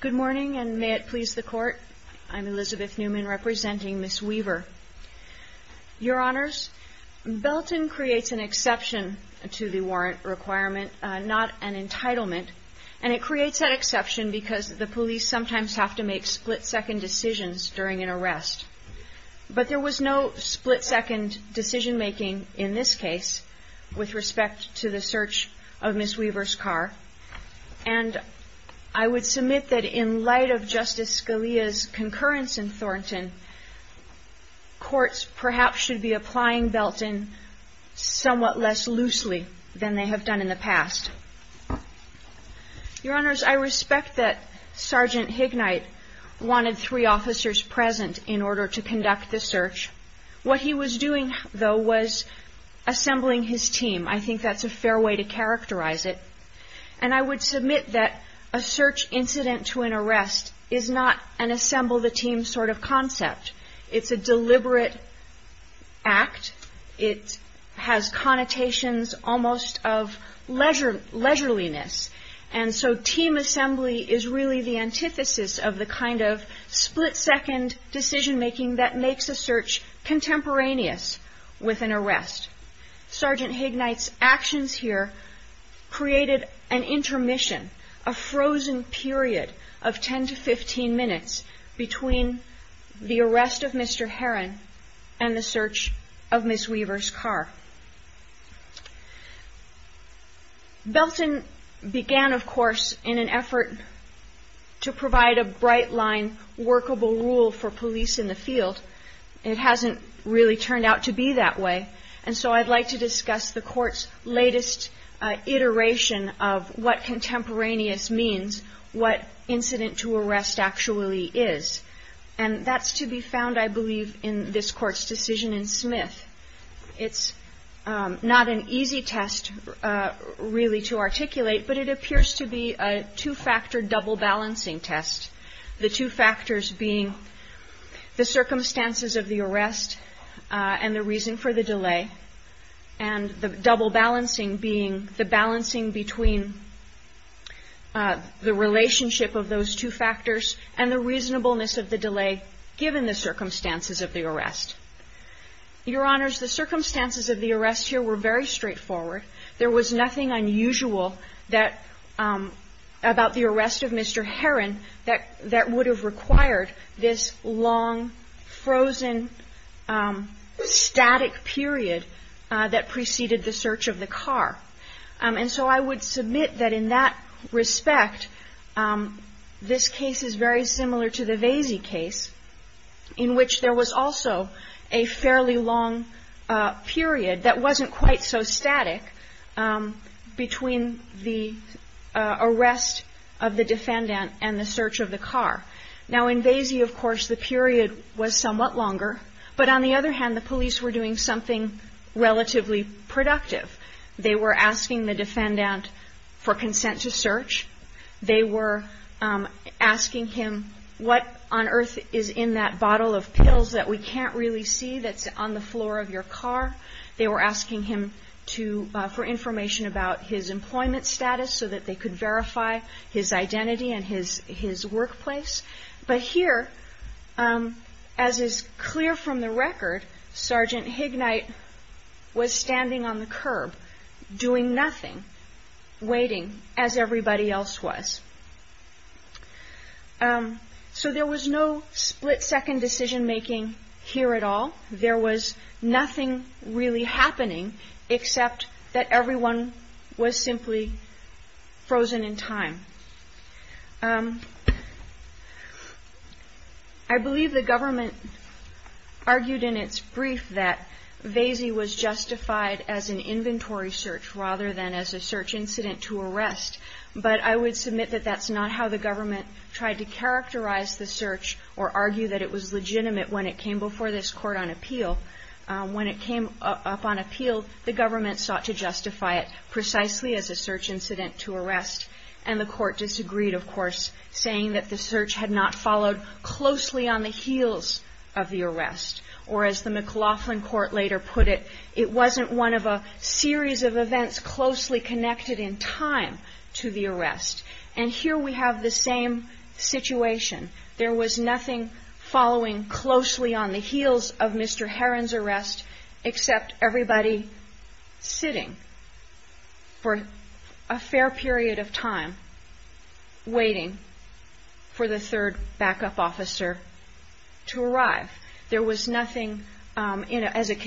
Good morning, and may it please the Court. I'm Elizabeth Newman, representing Ms. Weaver. Your Honors, Belton creates an exception to the warrant requirement, not an entitlement, and it creates that exception because the police sometimes have to make split-second decisions during an arrest. But there was no split-second decision-making in this case with respect to the search of Ms. Weaver's car. And I would submit that in light of Justice Scalia's concurrence in Thornton, courts perhaps should be applying Belton somewhat less loosely than they have done in the past. Your Honors, I respect that Sgt. Hignight wanted three I think that's a fair way to characterize it. And I would submit that a search incident to an arrest is not an assemble-the-team sort of concept. It's a deliberate act. It has connotations almost of leisureliness. And so team assembly is really the antithesis of the kind of split-second decision-making that makes a search contemporaneous with an arrest. Sgt. Hignight's actions here created an intermission, a frozen period of 10 to 15 minutes between the arrest of Mr. Herron and the search of Ms. Weaver's car. Belton began, of course, in an effort to provide a bright-line workable rule for police in the field. It hasn't really turned out to be that way. And so I'd like to discuss the Court's latest iteration of what contemporaneous means, what incident to arrest actually is. And that's to be found, I believe, in this Court's decision in Smith. It's not an easy test really to articulate, but it appears to be a two-factor double-balancing test, the two factors being the circumstances of the arrest and the reason for the delay, and the double-balancing being the balancing between the relationship of those two factors and the reasonableness of the delay given the circumstances of the arrest. Your Honors, the circumstances of the arrest here were very straightforward. There was nothing unusual about the arrest of Mr. Herron that would have required this long, frozen, static period that preceded the search of the car. And so I would submit that in that respect, this case is very similar to the Vasey case, in which there was also a fairly long period that wasn't quite so static between the arrest of the defendant and the search of the car. Now in Vasey, of course, the period was somewhat longer, but on the other hand, the police were doing something relatively productive. They were asking the defendant for consent to search. They were asking him what on earth is in that bottle of pills that we can't really see that's on the floor of your car. They were asking him for information about his employment status so that they could verify his identity and his workplace. But here, as is clear from the record, Sergeant Hignight was standing on the curb doing nothing, waiting as everybody else was. So there was no split-second decision-making here at all. There was nothing really happening except that everyone was simply frozen in time. I believe the government argued in its brief that Vasey was justified as an inventory search rather than as a search incident to arrest. But that's not how the government tried to characterize the search or argue that it was legitimate when it came before this Court on appeal. When it came up on appeal, the government sought to justify it precisely as a search incident to arrest. And the Court disagreed, of course, saying that the search had not followed closely on the heels of the arrest. Or as the McLaughlin Court later put it, it wasn't one of a series of events closely connected in time to the arrest. And here we have the same situation. There was nothing following closely on the heels of Mr. Heron's arrest except everybody sitting for a fair period of time waiting for the third backup officer to arrive. There was nothing as a that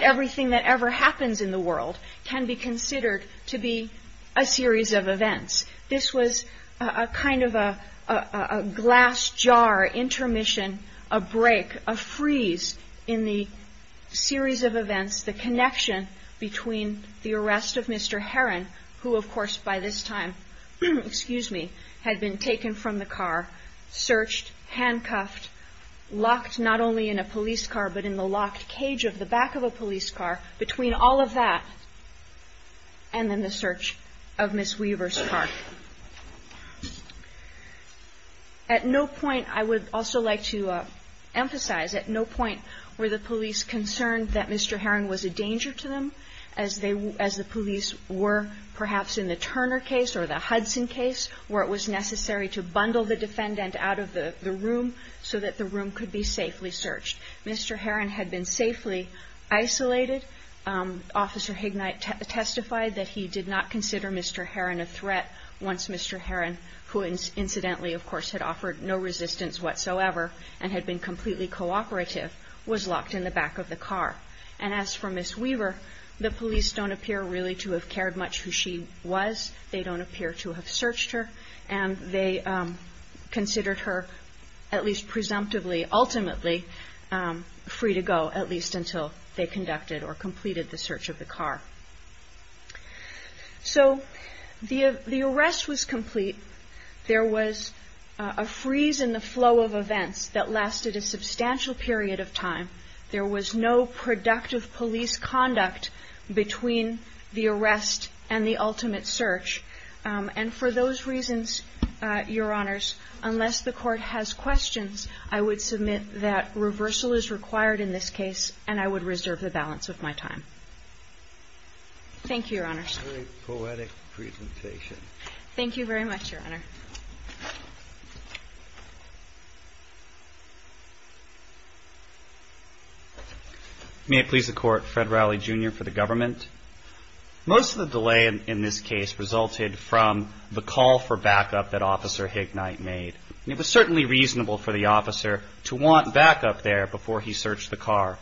everything that ever happens in the world can be considered to be a series of events. This was a kind of a glass jar intermission, a break, a freeze in the series of events, the connection between the arrest of Mr. Heron, who, of course, by this time had been taken from the car, searched, handcuffed, locked not only in a police car but in the locked police car, between all of that and then the search of Ms. Weaver's car. At no point I would also like to emphasize, at no point were the police concerned that Mr. Heron was a danger to them, as the police were perhaps in the Turner case or the Hudson case where it was necessary to bundle the defendant out of the room so that the room could be safely isolated. Officer Hignight testified that he did not consider Mr. Heron a threat once Mr. Heron, who incidentally, of course, had offered no resistance whatsoever and had been completely cooperative, was locked in the back of the car. And as for Ms. Weaver, the police don't appear really to have cared much who she was. They don't appear to have searched her. And they considered her, at least presumptively, ultimately free to go, at least until they conducted or completed the search of the car. So the arrest was complete. There was a freeze in the flow of events that lasted a substantial period of time. There was no productive police conduct between the arrest and the ultimate search. And for those reasons, Your Honors, unless the Court has questions, I would submit that reversal is required in this case, and I would reserve the balance of my time. Thank you, Your Honors. Very poetic presentation. Thank you very much, Your Honor. May it please the Court. Fred Rowley, Jr. for the Government. Most of the delay in this case resulted from the call for backup that Officer Hignight made. It was certainly reasonable for the officer to want backup there before he searched the car.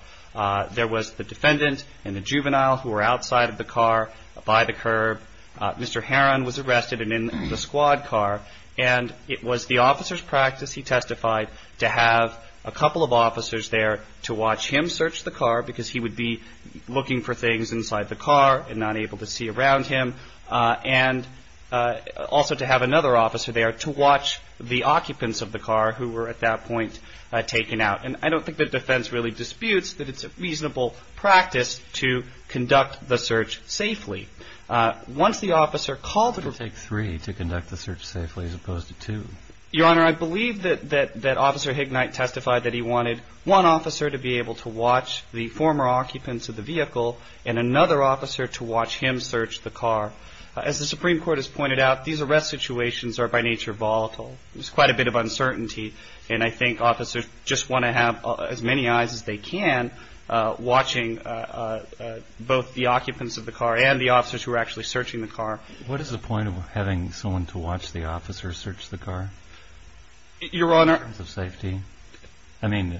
There was the defendant and the juvenile who were outside of the car by the curb. Mr. Heron was arrested and in the squad car. And it was the officer's practice, he testified, to have a couple of officers there to watch him search the car because he would be looking for things inside the car and not able to see around him. And also to have another officer there to watch the car at that point taken out. And I don't think the defense really disputes that it's a reasonable practice to conduct the search safely. Once the officer called it... It would take three to conduct the search safely as opposed to two. Your Honor, I believe that Officer Hignight testified that he wanted one officer to be able to watch the former occupants of the vehicle and another officer to watch him search the car. As the Supreme Court has pointed out, these arrest situations are by nature volatile. There's quite a bit of uncertainty. And I think officers just want to have as many eyes as they can watching both the occupants of the car and the officers who are actually searching the car. What is the point of having someone to watch the officer search the car? Your Honor... In terms of safety? I mean...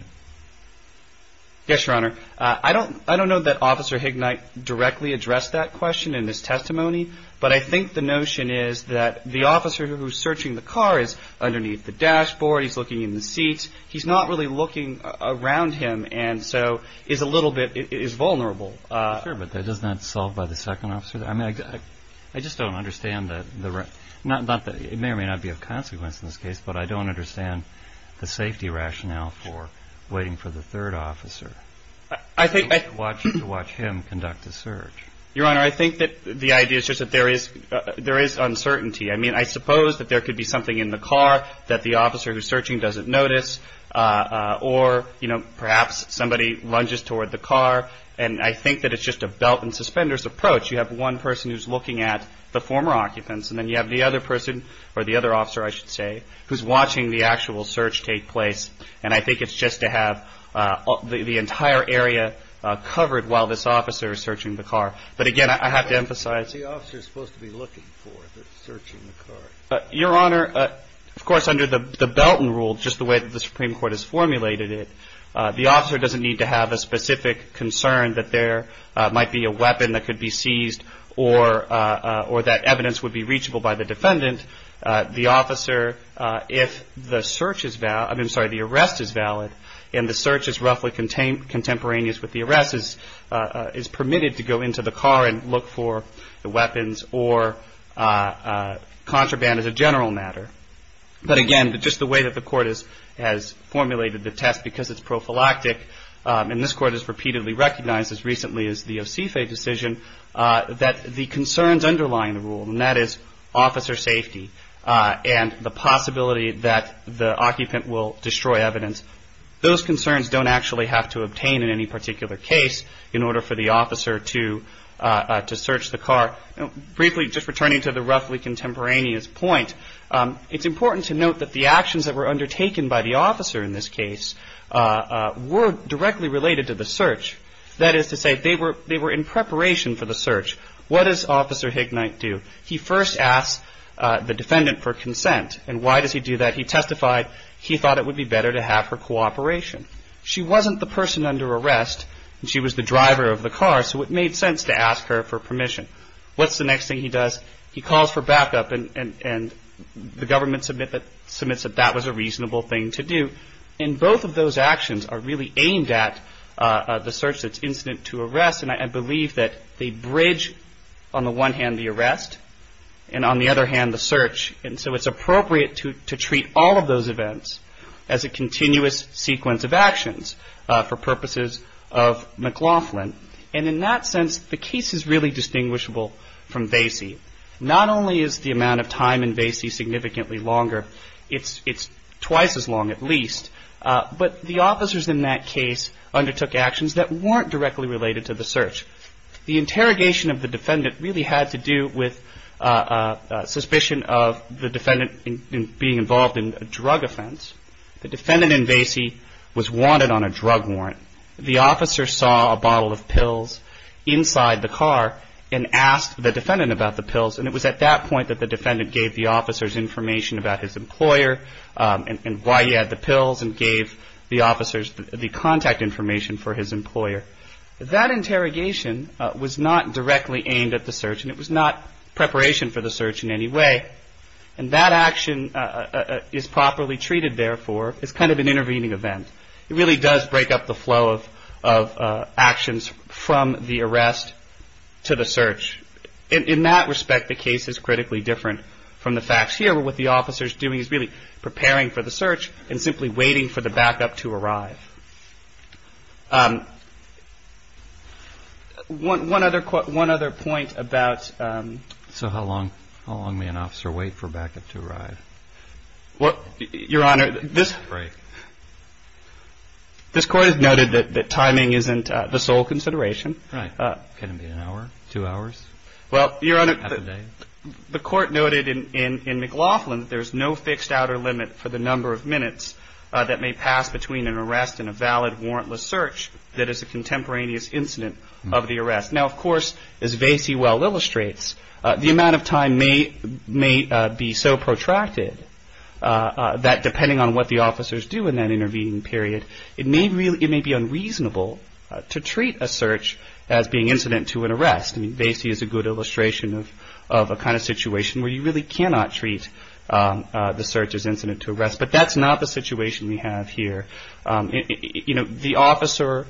Yes, Your Honor. I don't know that Officer Hignight directly addressed that question in his testimony. But I think the notion is that the officer who's searching the car is underneath the dashboard. He's looking in the seat. He's not really looking around him and so is a little bit... is vulnerable. Sure, but doesn't that solve by the second officer? I mean, I just don't understand that the... It may or may not be of consequence in this case, but I don't understand the safety rationale for waiting for the third officer to watch him conduct the search. Your Honor, I think that the idea is just that there is... there is uncertainty. I mean, I suppose that there could be something in the car that the officer who's searching doesn't notice or, you know, perhaps somebody lunges toward the car. And I think that it's just a belt and suspenders approach. You have one person who's looking at the former occupants and then you have the other person or the other officer, I should say, who's watching the actual search take place. And I think it's just to have the entire area covered while this officer is searching the car. But again, I have to emphasize... Who's the officer supposed to be looking for that's searching the car? Your Honor, of course, under the Belton rule, just the way that the Supreme Court has formulated it, the officer doesn't need to have a specific concern that there might be a weapon that could be seized or that evidence would be reachable by the defendant. The officer, if the search is valid... I'm sorry, the arrest is valid and the search is roughly contemporaneous with the arrest, is permitted to go into the car and look for the weapons or contraband as a general matter. But again, just the way that the Court has formulated the test because it's prophylactic, and this Court has repeatedly recognized as recently as the Osife decision, that the concerns underlying the rule, and that is officer safety and the possibility that the occupant will destroy evidence, those concerns don't actually have to obtain in any particular case in order for the officer to search the car. Briefly, just returning to the roughly contemporaneous point, it's important to note that the actions that were undertaken by the officer in this case were directly related to the search. That is to say, they were in preparation for the search. What does Officer Hignight do? He first asks the defendant for consent. And why does he do that? He testified he thought that it would be better to have her cooperation. She wasn't the person under arrest. She was the driver of the car, so it made sense to ask her for permission. What's the next thing he does? He calls for backup, and the government submits that that was a reasonable thing to do. And both of those actions are really aimed at the search that's incident to arrest, and I believe that they bridge on the one hand the arrest, and on the other hand the search. And so it's appropriate to treat all of those events as a continuous sequence of actions for purposes of McLaughlin. And in that sense, the case is really distinguishable from Vasey. Not only is the amount of time in Vasey significantly longer, it's twice as long at least, but the officers in that case undertook actions that weren't directly related to the search. The interrogation of the defendant really had to do with suspicion of the defendant being involved in a drug offense. The defendant in Vasey was wanted on a drug warrant. The officer saw a bottle of pills inside the car and asked the defendant about the pills, and it was at that point that the defendant gave the officers information about his employer and why he had the pills, and gave the officers the contact information for his employer. That interrogation was not directly aimed at the search, and it was not preparation for the search in any way. And that action is properly treated, therefore, as kind of an intervening event. It really does break up the flow of actions from the arrest to the search. In that respect, the case is critically different from the facts here, where what the officer is doing is really preparing for the search and simply waiting for the backup to arrive. One other point about... So how long may an officer wait for backup to arrive? Your Honor, this court has noted that timing isn't the sole consideration. Right. Can it be an hour, two hours, half a day? The court noted in McLaughlin that there's no fixed outer limit for the number of minutes that may pass between an arrest and a valid warrantless search that is a contemporaneous incident of the arrest. Now, of course, as Vasey well illustrates, the amount of time may be so protracted that depending on what the officers do in that intervening period, it may be unreasonable to treat a search as being incident to an arrest. I mean, Vasey is a good illustration of a kind of situation where you really cannot treat the search as an incident. The officer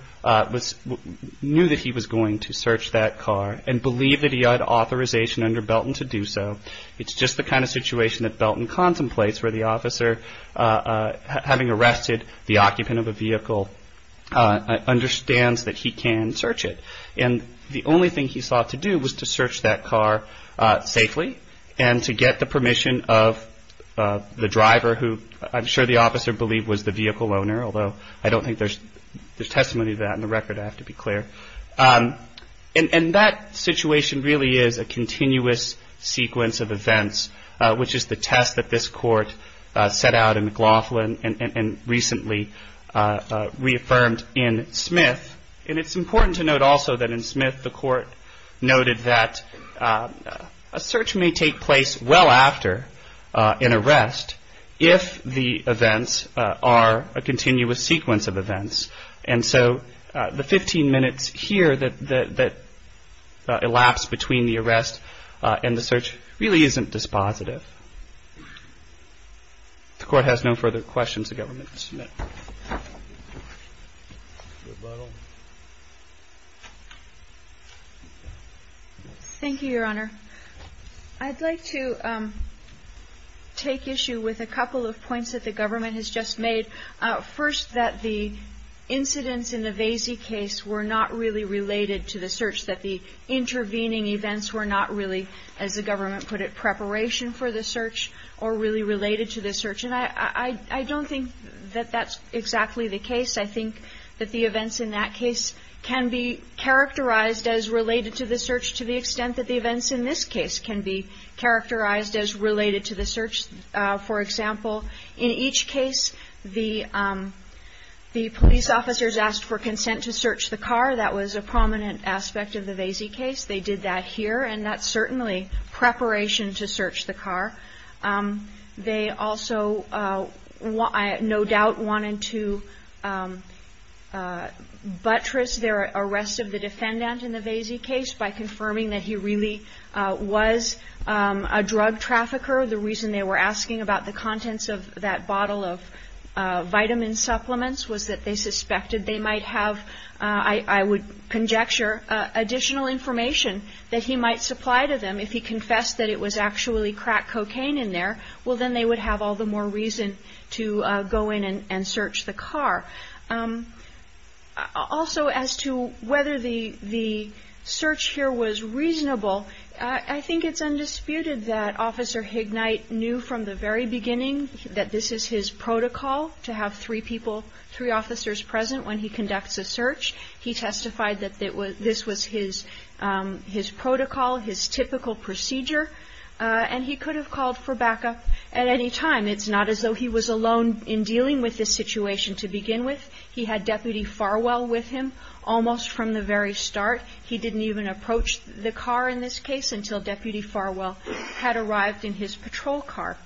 knew that he was going to search that car and believed that he had authorization under Belton to do so. It's just the kind of situation that Belton contemplates where the officer, having arrested the occupant of a vehicle, understands that he can search it. And the only thing he sought to do was to search that car safely and to get the permission of the driver, who I'm sure the officer believed was the vehicle owner, although I don't think there's testimony to that in the record, I have to be clear. And that situation really is a continuous sequence of events, which is the test that this court set out in McLaughlin and recently reaffirmed in Smith. And it's important to consider in arrest if the events are a continuous sequence of events. And so the 15 minutes here that elapsed between the arrest and the search really isn't dispositive. The court has no further questions the government can submit. Thank you, Your Honor. I'd like to take issue with a couple of points that the government has just made. First, that the incidents in the Vasey case were not really related to the search, that the intervening events were not really, as the government put it, preparation for the search or really related to the search. And I don't think that that's exactly the case. I think that the events in that case can be characterized as related to the search to the extent that the events in this case can be characterized as related to the search. For example, in each case, the police officers asked for consent to search the car. That was a prominent aspect of the Vasey case. They did that here. And that's certainly preparation to search the car. They also no doubt wanted to buttress their arrest of the defendant in the Vasey case by confirming that he really was a drug trafficker. The reason they were asking about the contents of that bottle of vitamin supplements was that they suspected they might have, I would conjecture, additional information that he might supply to them if he confessed that it was actually crack cocaine in there. Well, then they would have all the more reason to go in and search the car. Also as to whether the search here was reasonable, I think it's undisputed that Officer Hignite knew from the very beginning that this is his protocol to have three people, three officers present when he conducts a search. He testified that this was his protocol, his typical procedure. And he could have called for backup at any time. It's not as though he was alone in dealing with this situation to begin with. He had Deputy Farwell with him almost from the very start. He didn't even approach the car in this case until Deputy Farwell had arrived in his patrol car.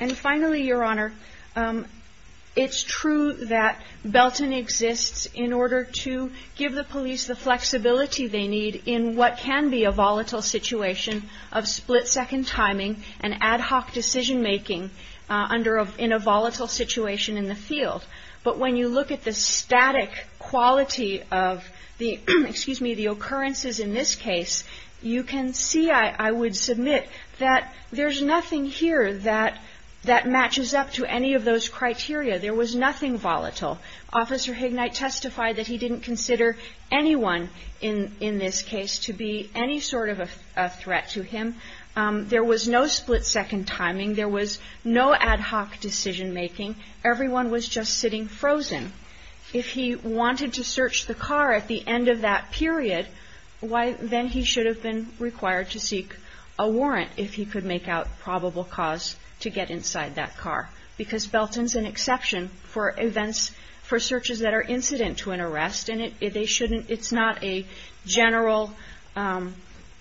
And finally, Your Honor, it's true that Belton exists in order to give the police the flexibility they need in what can be a volatile situation of split-second timing and ad hoc decision making in a volatile situation in the field. But when you look at the static quality of the occurrences in this case, you can see, I would submit, that there's nothing here that matches up to any of those criteria. There was nothing volatile. Officer Hignite testified that he didn't consider anyone in this case to be any sort of a threat to him. There was no split-second timing. There was no ad hoc decision making. Everyone was just sitting frozen. If he wanted to search the car at the end of that period, then he should have been required to seek a warrant if he could make out probable cause to get an arrest. And it's not a general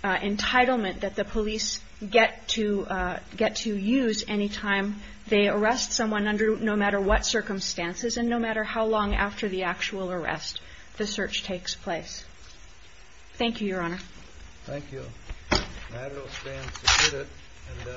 entitlement that the police get to use any time they arrest someone under no matter what circumstances and no matter how long after the actual arrest the search takes place. Thank you, Your Honor.